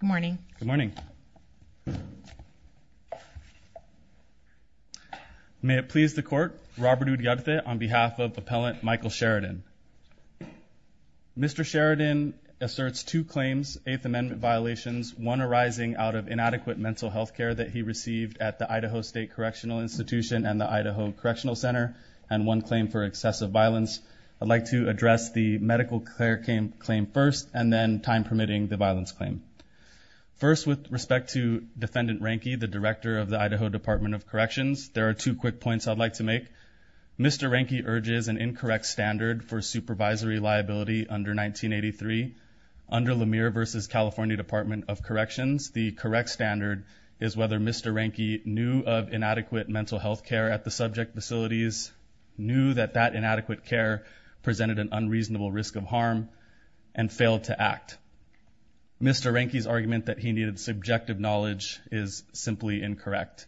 Good morning. Good morning. May it please the court, Robert Udyagte on behalf of Appellant Michael Sheridan. Mr. Sheridan asserts two claims, Eighth Amendment violations, one arising out of inadequate mental health care that he received at the Idaho State Correctional Institution and the Idaho Correctional Center, and one claim for excessive violence. I'd like to address the medical care claim first and then time permitting the violence claim. First with respect to Defendant Reinke, the director of the Idaho Department of Corrections, there are two quick points I'd like to make. Mr. Reinke urges an incorrect standard for supervisory liability under 1983 under Lemire versus California Department of Corrections. The correct standard is whether Mr. Reinke knew of inadequate mental health care at the risk of harm and failed to act. Mr. Reinke's argument that he needed subjective knowledge is simply incorrect.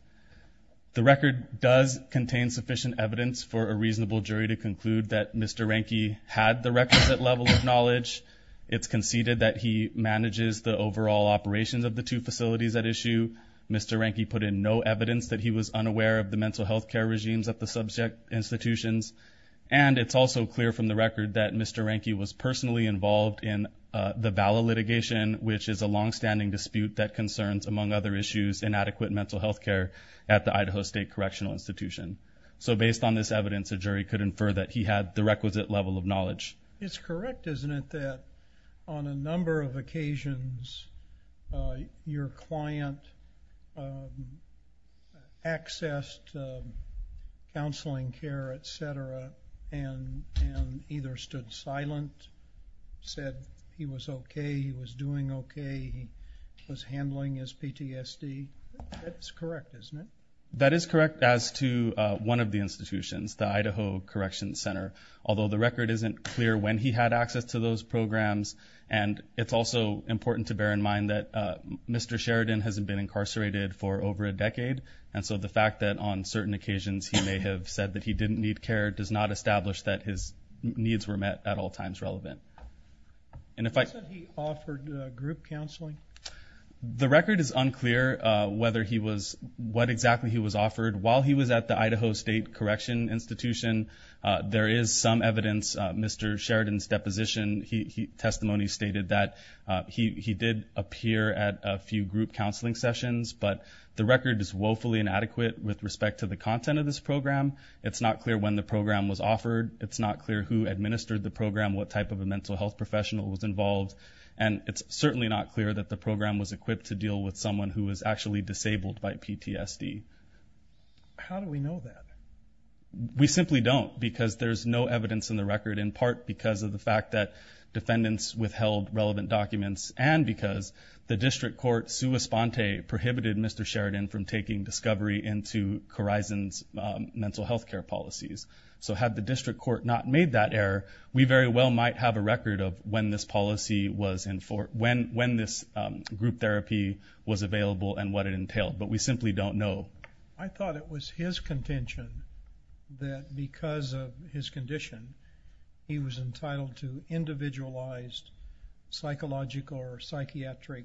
The record does contain sufficient evidence for a reasonable jury to conclude that Mr. Reinke had the requisite level of knowledge. It's conceded that he manages the overall operations of the two facilities at issue. Mr. Reinke put in no evidence that he was unaware of the mental health care regimes at the subject institutions, and it's also clear from the record that Mr. Reinke was personally involved in the ballot litigation, which is a long-standing dispute that concerns, among other issues, inadequate mental health care at the Idaho State Correctional Institution. So based on this evidence, a jury could infer that he had the requisite level of knowledge. It's correct, isn't it, that on a number of occasions, your client accessed counseling care, etc., and either stood silent, said he was okay, he was doing okay, he was handling his PTSD? That's correct, isn't it? That is correct as to one of the institutions, the Idaho Corrections Center, although the record isn't clear when he had access to those programs, and it's also important to bear in mind that Mr. Sheridan hasn't been incarcerated for over a decade, and so the fact that on the record he didn't need care does not establish that his needs were met at all times relevant. And if I... You said he offered group counseling? The record is unclear whether he was, what exactly he was offered. While he was at the Idaho State Correctional Institution, there is some evidence, Mr. Sheridan's deposition, testimony stated that he did appear at a few group counseling sessions, but the record is woefully inadequate with respect to the content of this program, it's not clear when the program was offered, it's not clear who administered the program, what type of a mental health professional was involved, and it's certainly not clear that the program was equipped to deal with someone who was actually disabled by PTSD. How do we know that? We simply don't, because there's no evidence in the record, in part because of the fact that defendants withheld relevant documents, and because the district court, sua sponte, prohibited Mr. Sheridan from taking discovery into Corizon's mental health care policies. So had the district court not made that error, we very well might have a record of when this policy was in for, when this group therapy was available and what it entailed, but we simply don't know. I thought it was his contention that because of his condition, he was entitled to individualized psychological or psychiatric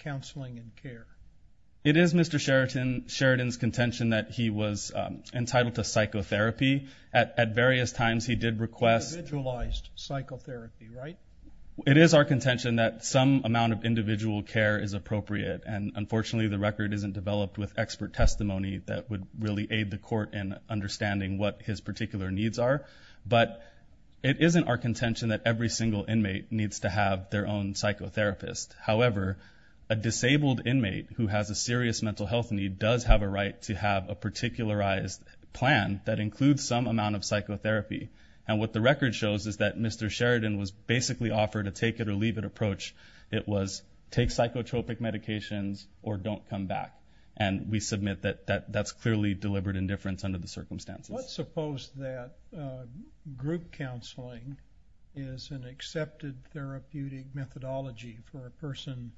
counseling and care. It is Mr. Sheridan's contention that he was entitled to psychotherapy. At various times he did request... Individualized psychotherapy, right? It is our contention that some amount of individual care is appropriate, and unfortunately the record isn't developed with expert testimony that would really aid the court in understanding what his particular needs are, but it isn't our contention that every single inmate needs to have their own psychotherapist. However, a disabled inmate who has a serious mental health need does have a right to have a particularized plan that includes some amount of psychotherapy, and what the record shows is that Mr. Sheridan was basically offered a take-it-or-leave-it approach. It was take psychotropic medications or don't come back, and we submit that that's clearly deliberate indifference under the circumstances. Let's suppose that group counseling is an accepted therapeutic methodology for a person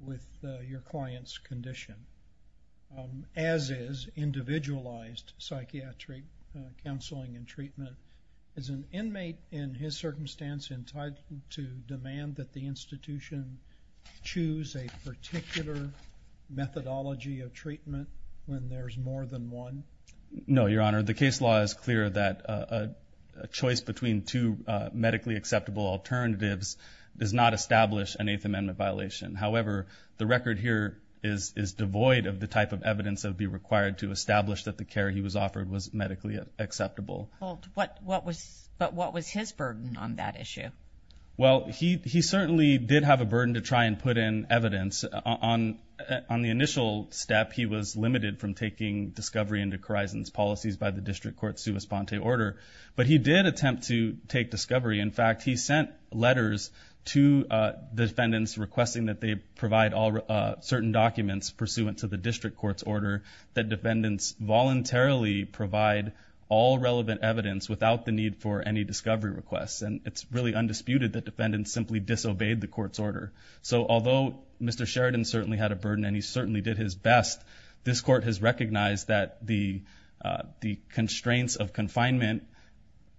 with your client's condition, as is individualized psychiatric counseling and treatment. Is an inmate in his circumstance entitled to demand that the institution choose a particular methodology of treatment when there's more than one? No, Your Honor. The case law is clear that a choice between two medically acceptable alternatives does not establish an Eighth Amendment violation. However, the record here is devoid of the type of evidence that would be required to establish that the care he was offered was medically acceptable. But what was his burden on that issue? Well, he certainly did have a burden to try and put in evidence. On the initial step, he was limited from taking discovery into Corizon's policies by the District Court's sua sponte order, but he did attempt to take discovery. In fact, he sent letters to defendants requesting that they provide certain documents pursuant to the District Court's order that defendants voluntarily provide all relevant evidence without the need for any discovery requests. And it's really undisputed that defendants simply disobeyed the Court's order. So although Mr. Sheridan certainly had a burden and he certainly did his best, this Court has recognized that the constraints of confinement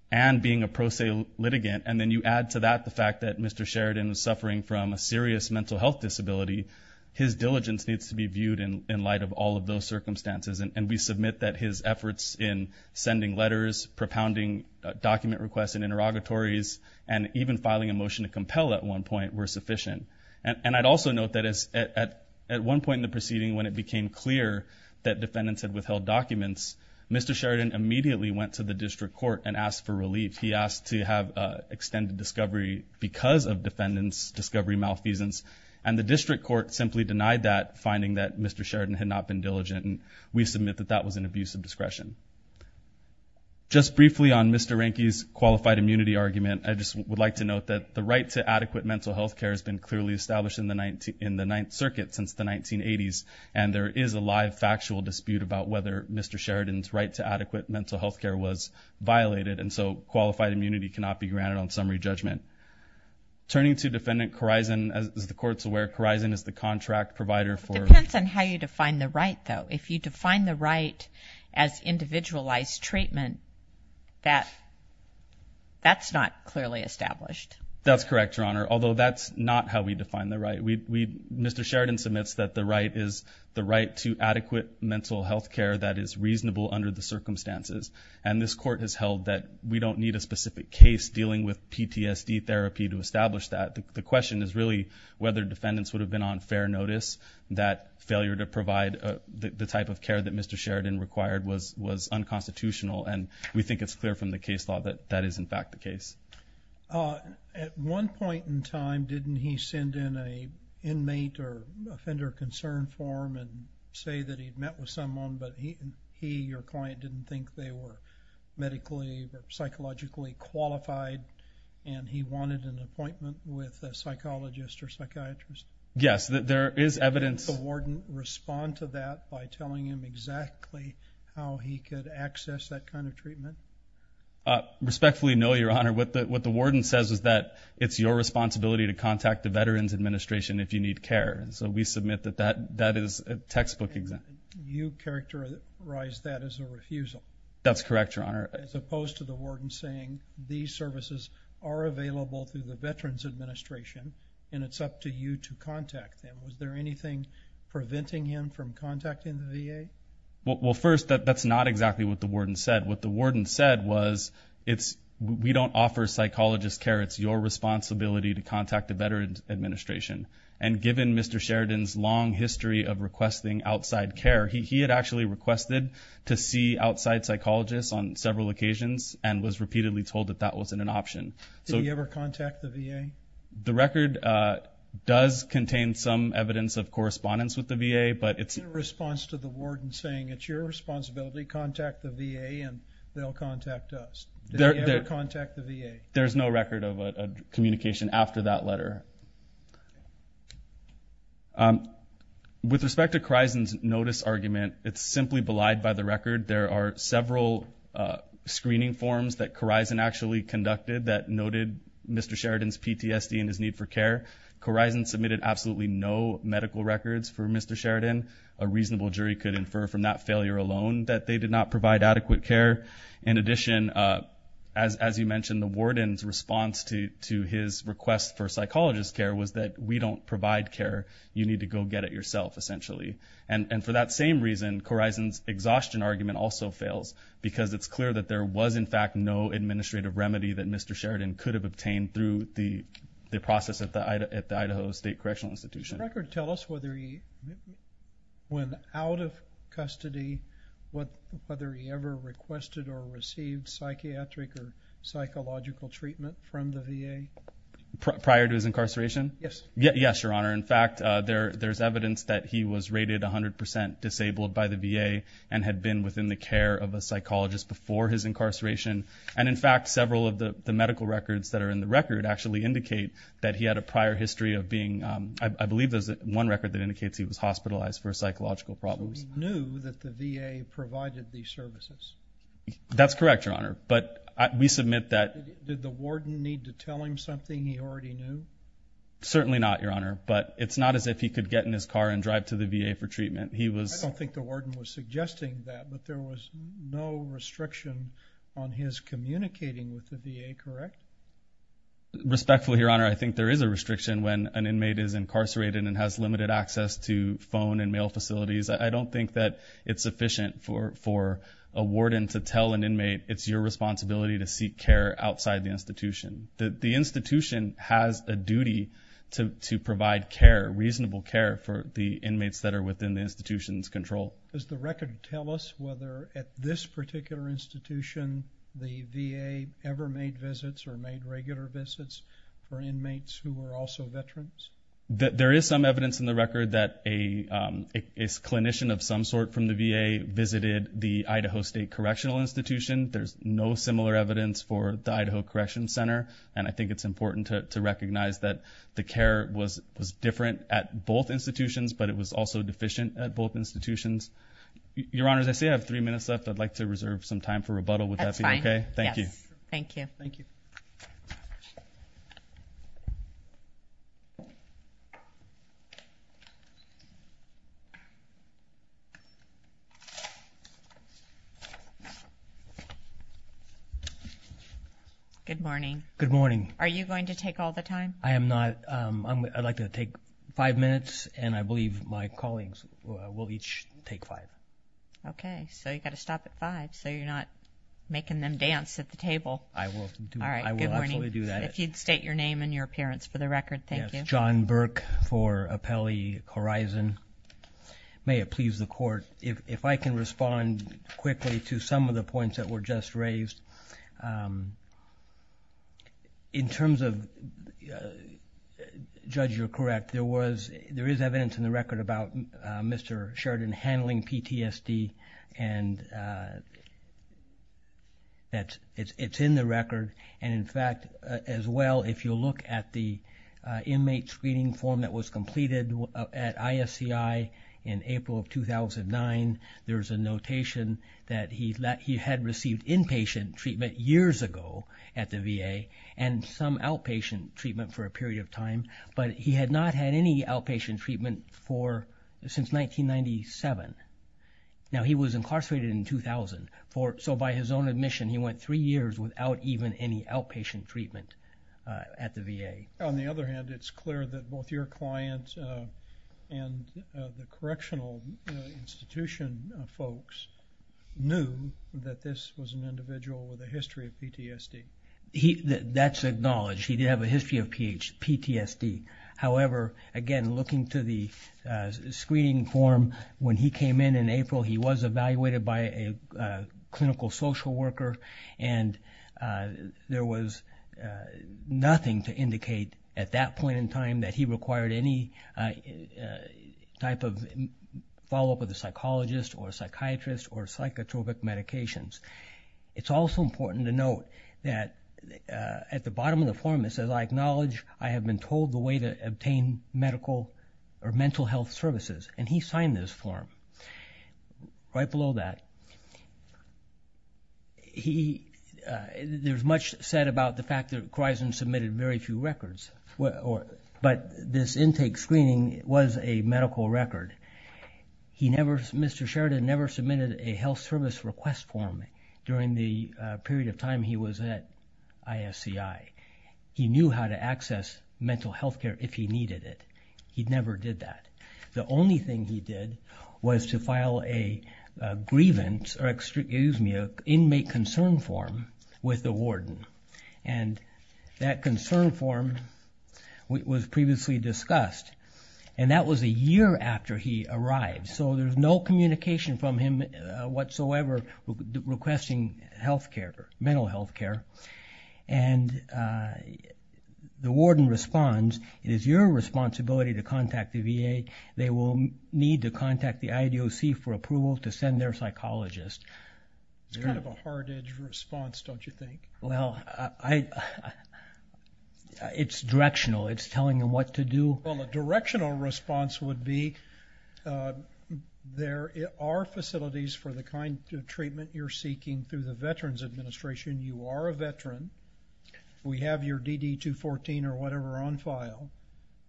and being a pro se litigant, and then you add to that the fact that Mr. Sheridan is suffering from a serious mental health disability, his diligence needs to be viewed in light of all of those circumstances. And we submit that his efforts in sending letters, propounding document requests and interrogatories, and even filing a motion to compel at one point were sufficient. And I'd also note that at one point in the proceeding when it became clear that defendants had withheld documents, Mr. Sheridan immediately went to the District Court and asked for relief. He asked to have extended discovery because of defendants' discovery malfeasance, and the District Court simply denied that, finding that Mr. Sheridan had not been diligent, and we submit that that was an abuse of discretion. Just briefly on Mr. Ranke's qualified immunity argument, I just would like to note that the right to adequate mental health care has been clearly established in the Ninth Circuit since the 1980s, and there is a live factual dispute about whether Mr. Sheridan's right to adequate mental health care was violated, and so qualified immunity cannot be granted on summary judgment. Turning to Defendant Khorizan, as the Court's aware, Khorizan is the contract provider for It depends on how you define the right, though. If you define the right as individualized treatment, that's not clearly established. That's correct, Your Honor, although that's not how we define the right. Mr. Sheridan submits that the right is the right to adequate mental health care that is reasonable under the circumstances, and this Court has held that we don't need a specific case dealing with PTSD therapy to establish that. The question is really whether defendants would have been on fair notice that failure to provide the type of care that Mr. Sheridan required was unconstitutional, and we think it's clear from the case law that that is, in fact, the case. At one point in time, didn't he send in an inmate or offender concern form and say that he'd met with someone, but he, your client, didn't think they were medically, psychologically qualified, and he wanted an appointment with a psychologist or psychiatrist? Yes, there is evidence. Did the warden respond to that by telling him exactly how he could access that kind of treatment? Respectfully, no, Your Honor. What the warden says is that it's your responsibility to contact the Veterans Administration if you need care, and so we submit that that is a textbook example. You characterize that as a refusal? That's correct, Your Honor. As opposed to the warden saying, these services are available through the Veterans Administration, and it's up to you to contact them. Was there anything preventing him from contacting the VA? Well, first, that's not exactly what the warden said. What the warden said was, we don't offer psychologist care. It's your responsibility to contact the Veterans Administration, and given Mr. Sheridan's long history of requesting outside care, he had actually requested to see outside psychologists on several occasions, and was repeatedly told that that wasn't an option. Did he ever contact the VA? The record does contain some evidence of correspondence with the VA, but it's... In response to the warden saying, it's your responsibility, contact the VA, and they'll contact us. Did he ever contact the VA? There's no record of a communication after that letter. With respect to Kreisen's notice argument, it's simply belied by the record. There are several screening forms that Kreisen actually conducted that noted Mr. Sheridan's PTSD and his need for care. Kreisen submitted absolutely no medical records for Mr. Sheridan. A reasonable jury could infer from that failure alone that they did not provide adequate care. In addition, as you mentioned, the warden's response to his request for psychologist care was that, we don't provide care. You need to go get it yourself, essentially. For that same reason, Kreisen's exhaustion argument also fails, because it's clear that there was, in fact, no administrative remedy that Mr. Sheridan could have obtained through the process at the Idaho State Correctional Institution. Does the record tell us whether he went out of custody, whether he ever requested or received psychiatric or psychological treatment from the VA? Prior to his incarceration? Yes. Yes, Your Honor. In fact, there's evidence that he was rated 100% disabled by the VA and had been within the care of a psychologist before his incarceration. And in fact, several of the medical records that are in the record actually indicate that he had a prior history of being, I believe there's one record that indicates he was hospitalized for psychological problems. He knew that the VA provided these services? That's correct, Your Honor. But we submit that- Did the warden need to tell him something he already knew? Certainly not, Your Honor. But it's not as if he could get in his car and drive to the VA for treatment. He was- I don't think the warden was suggesting that, but there was no restriction on his communicating with the VA, correct? Respectfully, Your Honor, I think there is a restriction when an inmate is incarcerated and has limited access to phone and mail facilities. I don't think that it's sufficient for a warden to tell an inmate, it's your responsibility to seek care outside the institution. The institution has a duty to provide care, reasonable care, for the inmates that are within the institution's control. Does the record tell us whether at this particular institution the VA ever made visits or made regular visits for inmates who were also veterans? There is some evidence in the record that a clinician of some sort from the VA visited the Idaho State Correctional Institution. There's no similar evidence for the Idaho Correctional Center, and I think it's important to recognize that the care was different at both institutions, but it was also deficient at both institutions. Your Honor, as I say, I have three minutes left, I'd like to reserve some time for rebuttal with that being okay? That's fine. Yes. Thank you. Thank you. Good morning. Good morning. Are you going to take all the time? I am not. I'd like to take five minutes, and I believe my colleagues will each take five. Okay. So you've got to stop at five, so you're not making them dance at the table. I will. All right. Good morning. I will actually do that. If you'd state your name and your appearance for the record, thank you. Yes. John Burke for Apelli Horizon. May it please the Court. If I can respond quickly to some of the points that were just raised, in terms of, Judge, you're correct, there is evidence in the record about Mr. Sheridan handling PTSD, and it's in the record, and in fact, as well, if you'll look at the inmate screening form that was a notation that he had received inpatient treatment years ago at the VA, and some outpatient treatment for a period of time, but he had not had any outpatient treatment since 1997. Now, he was incarcerated in 2000, so by his own admission, he went three years without even any outpatient treatment at the VA. On the other hand, it's clear that both your client and the correctional institution folks knew that this was an individual with a history of PTSD. That's acknowledged. He did have a history of PTSD. However, again, looking to the screening form, when he came in in April, he was evaluated by a clinical social worker, and there was nothing to indicate at that point in time that he required any type of follow-up with a psychologist or psychiatrist or psychotropic medications. It's also important to note that at the bottom of the form, it says, I acknowledge I have been told the way to obtain medical or mental health services, and he signed this form. Right below that, there's much said about the fact that Kreisen submitted very few records, but this intake screening was a medical record. Mr. Sheridan never submitted a health service request form during the period of time he was at ISCI. He knew how to access mental health care if he needed it. He never did that. The only thing he did was to file a grievance or, excuse me, an inmate concern form with the warden, and that concern form was previously discussed, and that was a year after he arrived. So there's no communication from him whatsoever requesting health care, mental health care, and the warden responds, it is your responsibility to contact the VA. They will need to contact the IDOC for approval to send their psychologist. It's kind of a hard-edged response, don't you think? Well, it's directional. It's telling them what to do. Well, the directional response would be, there are facilities for the kind of treatment you're seeking through the Veterans Administration. You are a veteran. We have your DD-214 or whatever on file,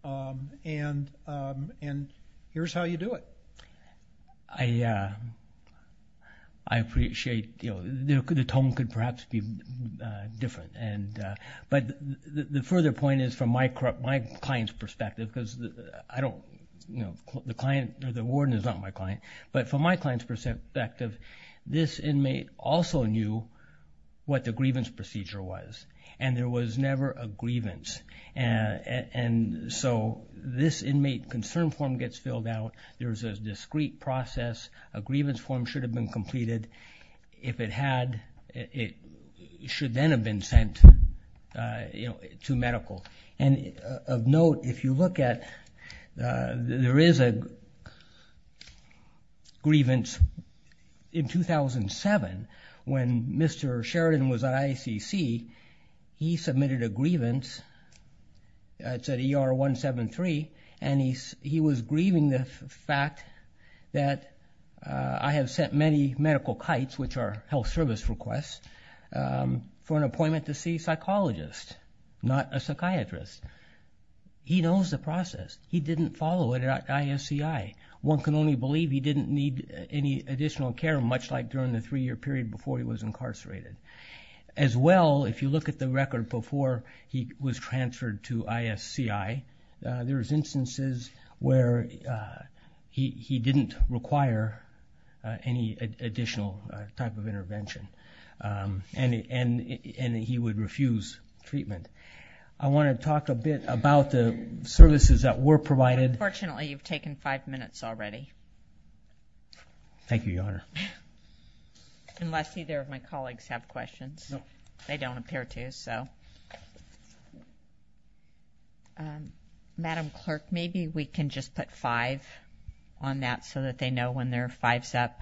and here's how you do it. I appreciate, you know, the tone could perhaps be different, but the further point is from my client's perspective because I don't, you know, the client or the warden is not my client, but from my client's perspective, this inmate also knew what the grievance procedure was, and there was never a grievance. And so this inmate concern form gets filled out. There's a discrete process. A grievance form should have been completed. If it had, it should then have been sent to medical. And of note, if you look at, there is a grievance. In 2007, when Mr. Sheridan was at IACC, he submitted a grievance. It said ER-173, and he was grieving the fact that I have sent many medical kites, which are health service requests, for an appointment to see a psychologist, not a psychiatrist. He knows the process. He didn't follow it at ISCI. One can only believe he didn't need any additional care, much like during the three-year period before he was incarcerated. As well, if you look at the record before he was transferred to ISCI, there is instances where he didn't require any additional type of intervention, and he would refuse treatment. I want to talk a bit about the services that were provided. Unfortunately, you've taken five minutes already. Thank you, Your Honor. Unless either of my colleagues have questions. No. They don't appear to, so. Madam Clerk, maybe we can just put five on that so that they know when their five's up.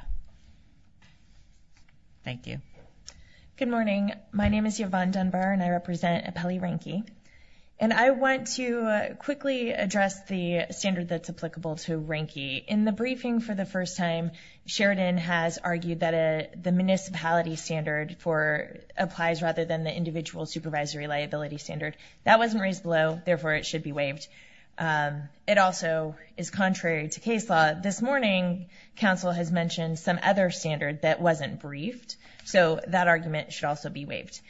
Thank you. Good morning. My name is Yvonne Dunbar, and I represent Appellee Ranky. And I want to quickly address the standard that's applicable to Ranky. In the briefing for the first time, Sheridan has argued that the municipality standard applies rather than the individual supervisory liability standard. That wasn't raised below, therefore it should be waived. It also is contrary to case law. This morning, counsel has mentioned some other standard that wasn't briefed, so that argument should also be waived.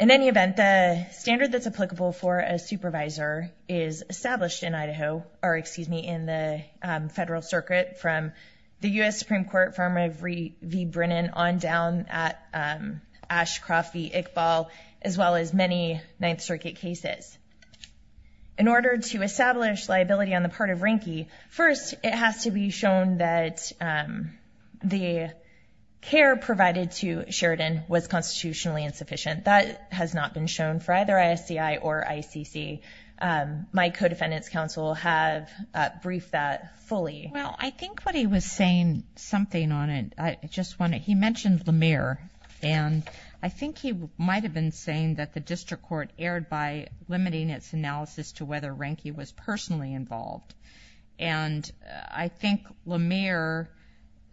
In any event, the standard that's applicable for a supervisor is established in Idaho or, excuse me, in the Federal Circuit from the U.S. Supreme Court firm of Reed v. Brennan on down at Ashcroft v. Iqbal, as well as many Ninth Circuit cases. In order to establish liability on the part of Ranky, first it has to be shown that the care provided to Sheridan was constitutionally insufficient. That has not been shown for either ISCI or ICC. My co-defendants, counsel, have briefed that fully. Well, I think what he was saying something on it. He mentioned Lemire, and I think he might have been saying that the district court erred by limiting its analysis to whether Ranky was personally involved. And I think Lemire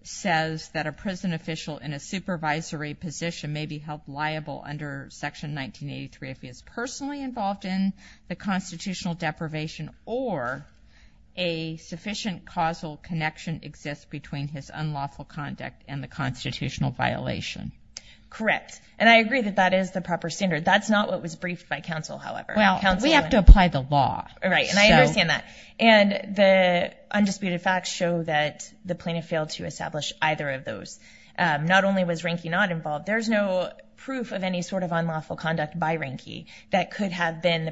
says that a prison official in a supervisory position may be held liable under Section 1983 if he is personally involved in the constitutional deprivation or a sufficient causal connection exists between his unlawful conduct and the constitutional violation. Correct. And I agree that that is the proper standard. That's not what was briefed by counsel, however. Well, we have to apply the law. Right, and I understand that. And the undisputed facts show that the plaintiff failed to establish either of those. Not only was Ranky not involved, there's no proof of any sort of unlawful conduct by Ranky that could have been the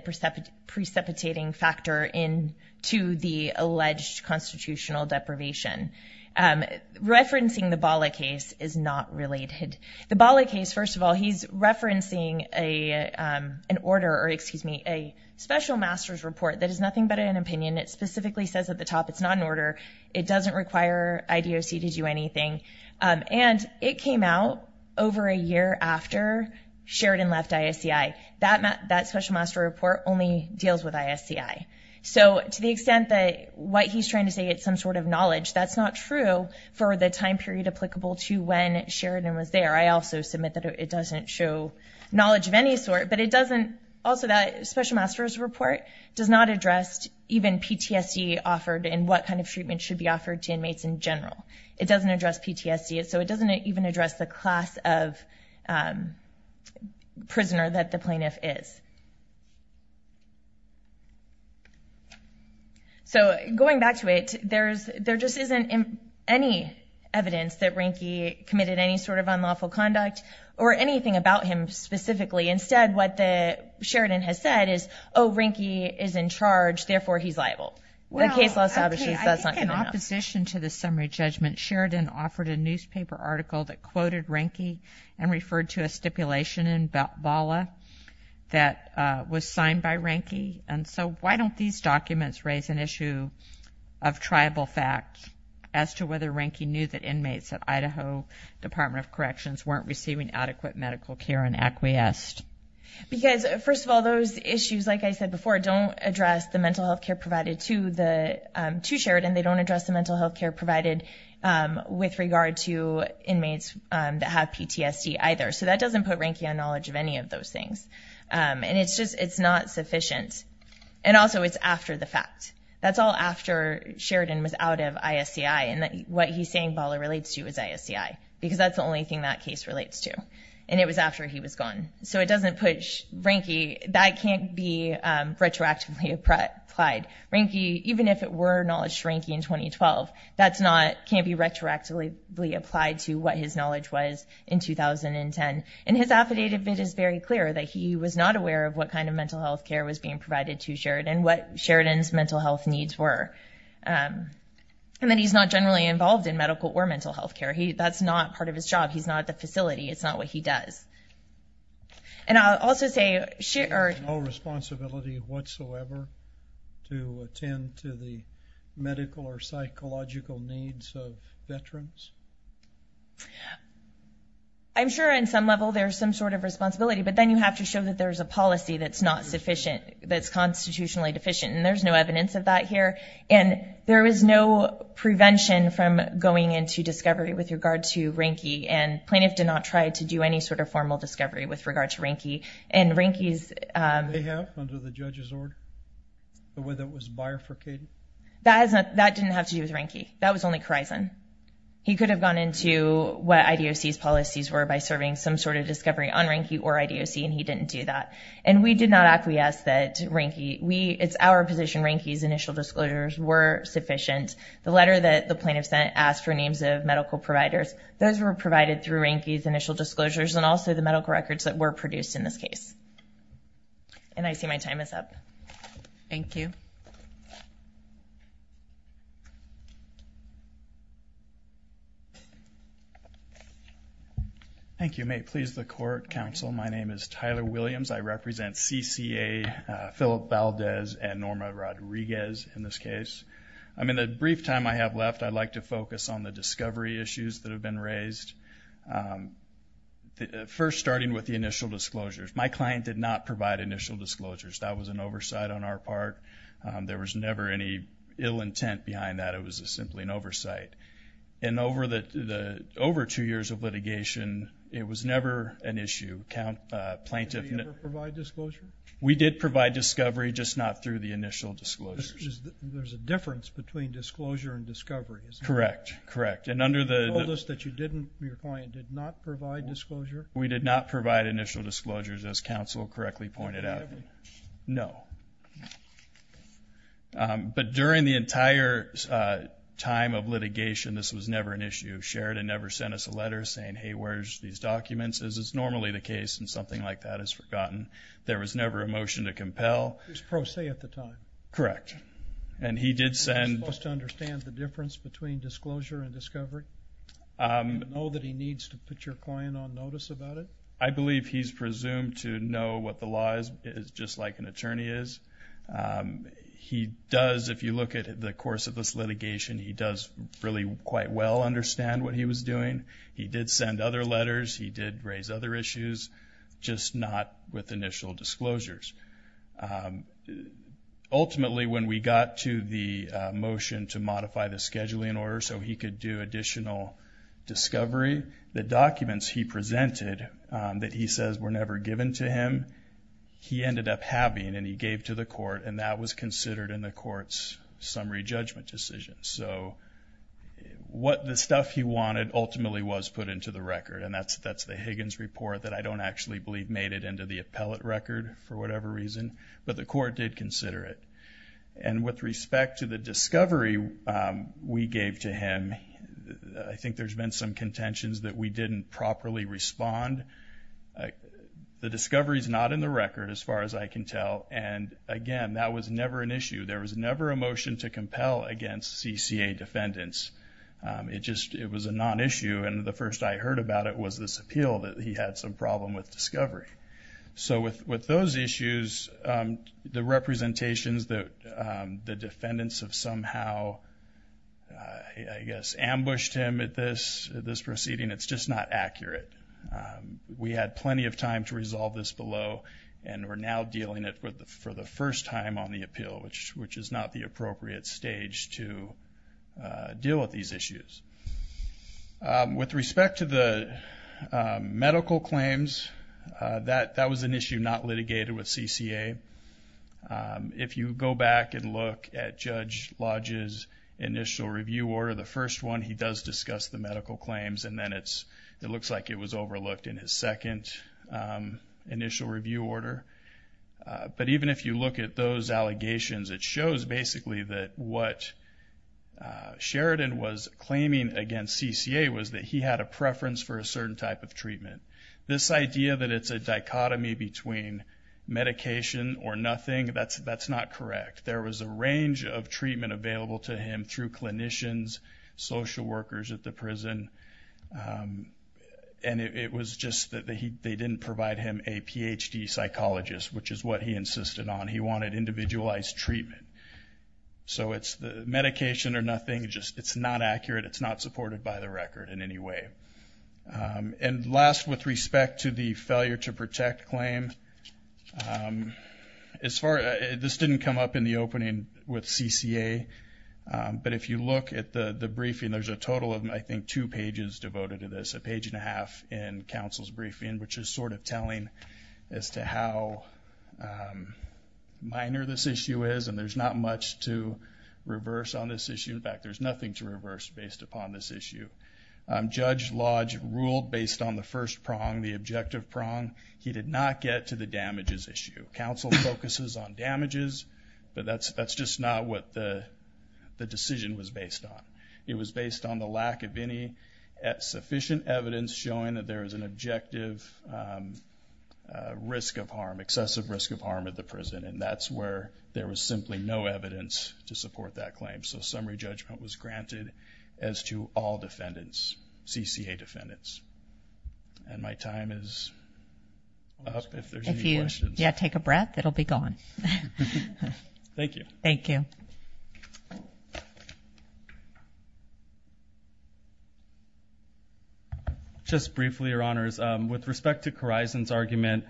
precipitating factor into the alleged constitutional deprivation. Referencing the Bala case is not related. The Bala case, first of all, he's referencing an order or, excuse me, a special master's report that is nothing but an opinion. It specifically says at the top it's not an order. It doesn't require IDOC to do anything. And it came out over a year after Sheridan left ISCI. That special master report only deals with ISCI. So to the extent that what he's trying to say is some sort of knowledge, that's not true for the time period applicable to when Sheridan was there. I also submit that it doesn't show knowledge of any sort, but it doesn't also that special master's report does not address even PTSD offered and what kind of treatment should be offered to inmates in general. It doesn't address PTSD, so it doesn't even address the class of prisoner that the plaintiff is. So going back to it, there just isn't any evidence that Ranky committed any sort of unlawful conduct or anything about him specifically. Instead, what Sheridan has said is, oh, Ranky is in charge, therefore he's liable. Well, I think in opposition to the summary judgment, Sheridan offered a newspaper article that quoted Ranky and referred to a stipulation in BALA that was signed by Ranky. And so why don't these documents raise an issue of tribal fact as to whether Ranky knew that inmates at Idaho Department of Corrections weren't receiving adequate medical care and acquiesced? Because, first of all, those issues, like I said before, don't address the mental health care provided to Sheridan. They don't address the mental health care provided with regard to inmates that have PTSD either. So that doesn't put Ranky on knowledge of any of those things. And it's just not sufficient. And also it's after the fact. That's all after Sheridan was out of ISCI. And what he's saying BALA relates to is ISCI, because that's the only thing that case relates to. And it was after he was gone. So it doesn't put Ranky. That can't be retroactively applied. Ranky, even if it were acknowledged Ranky in 2012, that can't be retroactively applied to what his knowledge was in 2010. And his affidavit is very clear that he was not aware of what kind of mental health care was being provided to Sheridan, what Sheridan's mental health needs were. And that he's not generally involved in medical or mental health care. That's not part of his job. He's not at the facility. It's not what he does. And I'll also say... There's no responsibility whatsoever to attend to the medical or psychological needs of veterans? I'm sure on some level there's some sort of responsibility. But then you have to show that there's a policy that's not sufficient, that's constitutionally deficient. And there's no evidence of that here. And there was no prevention from going into discovery with regard to Ranky. And plaintiff did not try to do any sort of formal discovery with regard to Ranky. And Ranky's... Did they have, under the judge's order, the way that was bifurcated? That didn't have to do with Ranky. That was only Corison. He could have gone into what IDOC's policies were by serving some sort of discovery on Ranky or IDOC, and he didn't do that. And we did not acquiesce that Ranky... It's our position Ranky's initial disclosures were sufficient. The letter that the plaintiff sent asked for names of medical providers. Those were provided through Ranky's initial disclosures and also the medical records that were produced in this case. And I see my time is up. Thank you. Thank you. May it please the Court, Counsel, my name is Tyler Williams. I represent CCA, Phillip Valdez, and Norma Rodriguez in this case. In the brief time I have left, I'd like to focus on the discovery issues that have been raised. First, starting with the initial disclosures. My client did not provide initial disclosures. That was an oversight on our part. There was never any ill intent behind that. It was simply an oversight. And over two years of litigation, it was never an issue. Did you ever provide disclosure? We did provide discovery, just not through the initial disclosures. There's a difference between disclosure and discovery, is there? Correct, correct. And under the... You told us that you didn't, your client did not provide disclosure? We did not provide initial disclosures, as Counsel correctly pointed out. Never? No. But during the entire time of litigation, this was never an issue. Sheridan never sent us a letter saying, hey, where's these documents? This is normally the case, and something like that is forgotten. There was never a motion to compel. It was pro se at the time. Correct. And he did send... Was he supposed to understand the difference between disclosure and discovery? Did he know that he needs to put your client on notice about it? I believe he's presumed to know what the law is, just like an attorney is. He does, if you look at the course of this litigation, he does really quite well understand what he was doing. He did send other letters. He did raise other issues, just not with initial disclosures. Ultimately, when we got to the motion to modify the scheduling order so he could do additional discovery, the documents he presented that he says were never given to him, he ended up having, and he gave to the court, and that was considered in the court's summary judgment decision. So the stuff he wanted ultimately was put into the record, and that's the Higgins report that I don't actually believe made it into the appellate record for whatever reason, but the court did consider it. And with respect to the discovery we gave to him, I think there's been some contentions that we didn't properly respond. The discovery is not in the record, as far as I can tell, and, again, that was never an issue. There was never a motion to compel against CCA defendants. It was a non-issue, and the first I heard about it was this appeal that he had some problem with discovery. So with those issues, the representations that the defendants have somehow, I guess, ambushed him at this proceeding, it's just not accurate. We had plenty of time to resolve this below, and we're now dealing it for the first time on the appeal, which is not the appropriate stage to deal with these issues. With respect to the medical claims, that was an issue not litigated with CCA. If you go back and look at Judge Lodge's initial review order, the first one he does discuss the medical claims, and then it looks like it was overlooked in his second initial review order. But even if you look at those allegations, it shows, basically, that what Sheridan was claiming against CCA was that he had a preference for a certain type of treatment. This idea that it's a dichotomy between medication or nothing, that's not correct. There was a range of treatment available to him through clinicians, social workers at the prison, and it was just that they didn't provide him a Ph.D. psychologist, which is what he insisted on. He wanted individualized treatment. So it's medication or nothing, it's not accurate, it's not supported by the record in any way. And last, with respect to the failure to protect claim, this didn't come up in the opening with CCA, but if you look at the briefing, there's a total of, I think, two pages devoted to this, a page and a half in counsel's briefing, which is sort of telling as to how minor this issue is, and there's not much to reverse on this issue. In fact, there's nothing to reverse based upon this issue. Judge Lodge ruled based on the first prong, the objective prong. He did not get to the damages issue. Counsel focuses on damages, but that's just not what the decision was based on. It was based on the lack of any sufficient evidence showing that there is an objective risk of harm, excessive risk of harm at the prison, and that's where there was simply no evidence to support that claim. So summary judgment was granted as to all defendants, CCA defendants. And my time is up if there's any questions. If you take a breath, it'll be gone. Thank you. Thank you. Just briefly, Your Honors, with respect to Corison's argument,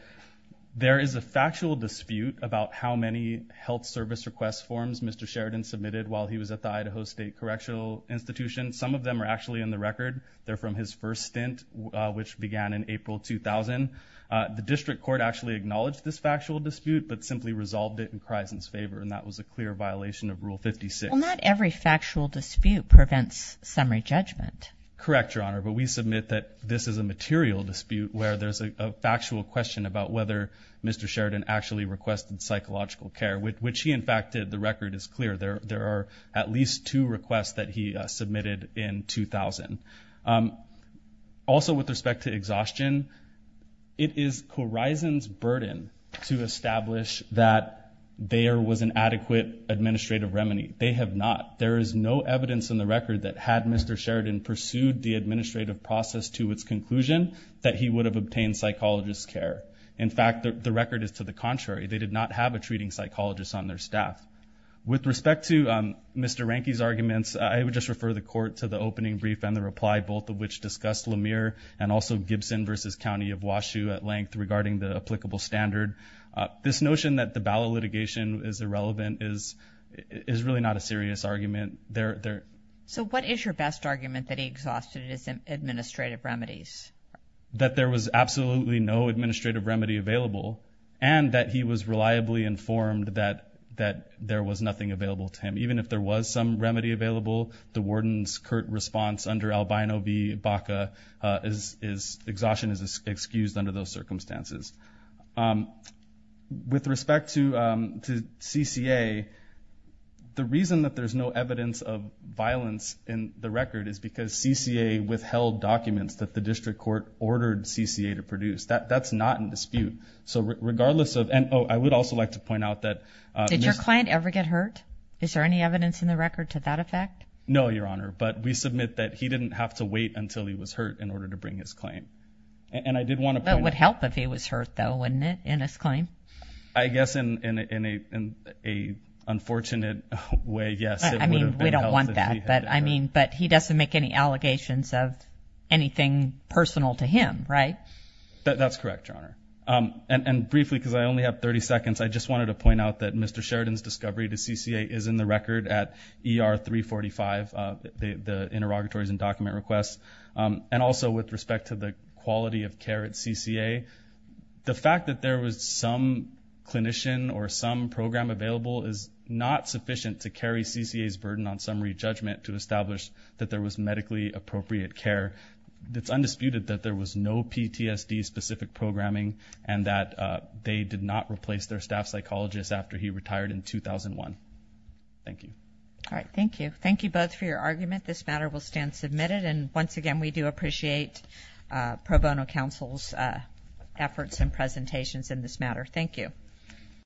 there is a factual dispute about how many health service request forms Mr. Sheridan submitted while he was at the Idaho State Correctional Institution. Some of them are actually in the record. They're from his first stint, which began in April 2000. The district court actually acknowledged this factual dispute but simply resolved it in Corison's favor, and that was a clear violation of Rule 56. Well, not every factual dispute prevents summary judgment. Correct, Your Honor, but we submit that this is a material dispute where there's a factual question about whether Mr. Sheridan actually requested psychological care, which he, in fact, did. The record is clear. There are at least two requests that he submitted in 2000. Also with respect to exhaustion, it is Corison's burden to establish that there was an adequate administrative remedy. They have not. There is no evidence in the record that had Mr. Sheridan pursued the administrative process to its conclusion that he would have obtained psychologist care. In fact, the record is to the contrary. With respect to Mr. Ranke's arguments, I would just refer the court to the opening brief and the reply, both of which discussed Lemire and also Gibson v. County of Washou at length regarding the applicable standard. This notion that the ballot litigation is irrelevant is really not a serious argument. So what is your best argument that he exhausted his administrative remedies? That there was absolutely no administrative remedy available and that he was reliably informed that there was nothing available to him. Even if there was some remedy available, the warden's curt response under Albino v. Baca is exhaustion is excused under those circumstances. With respect to CCA, the reason that there's no evidence of violence in the record is because CCA withheld documents that the district court ordered CCA to produce. That's not in dispute. I would also like to point out that— Did your client ever get hurt? Is there any evidence in the record to that effect? No, Your Honor. But we submit that he didn't have to wait until he was hurt in order to bring his claim. It would help if he was hurt though, wouldn't it, in his claim? I guess in an unfortunate way, yes. I mean, we don't want that. But he doesn't make any allegations of anything personal to him, right? That's correct, Your Honor. And briefly, because I only have 30 seconds, I just wanted to point out that Mr. Sheridan's discovery to CCA is in the record at ER 345, the interrogatories and document requests. And also with respect to the quality of care at CCA, the fact that there was some clinician or some program available is not sufficient to carry CCA's burden on summary judgment to establish that there was medically appropriate care. It's undisputed that there was no PTSD-specific programming and that they did not replace their staff psychologist after he retired in 2001. Thank you. All right, thank you. Thank you both for your argument. This matter will stand submitted. And once again, we do appreciate Pro Bono Counsel's efforts and presentations in this matter. Thank you.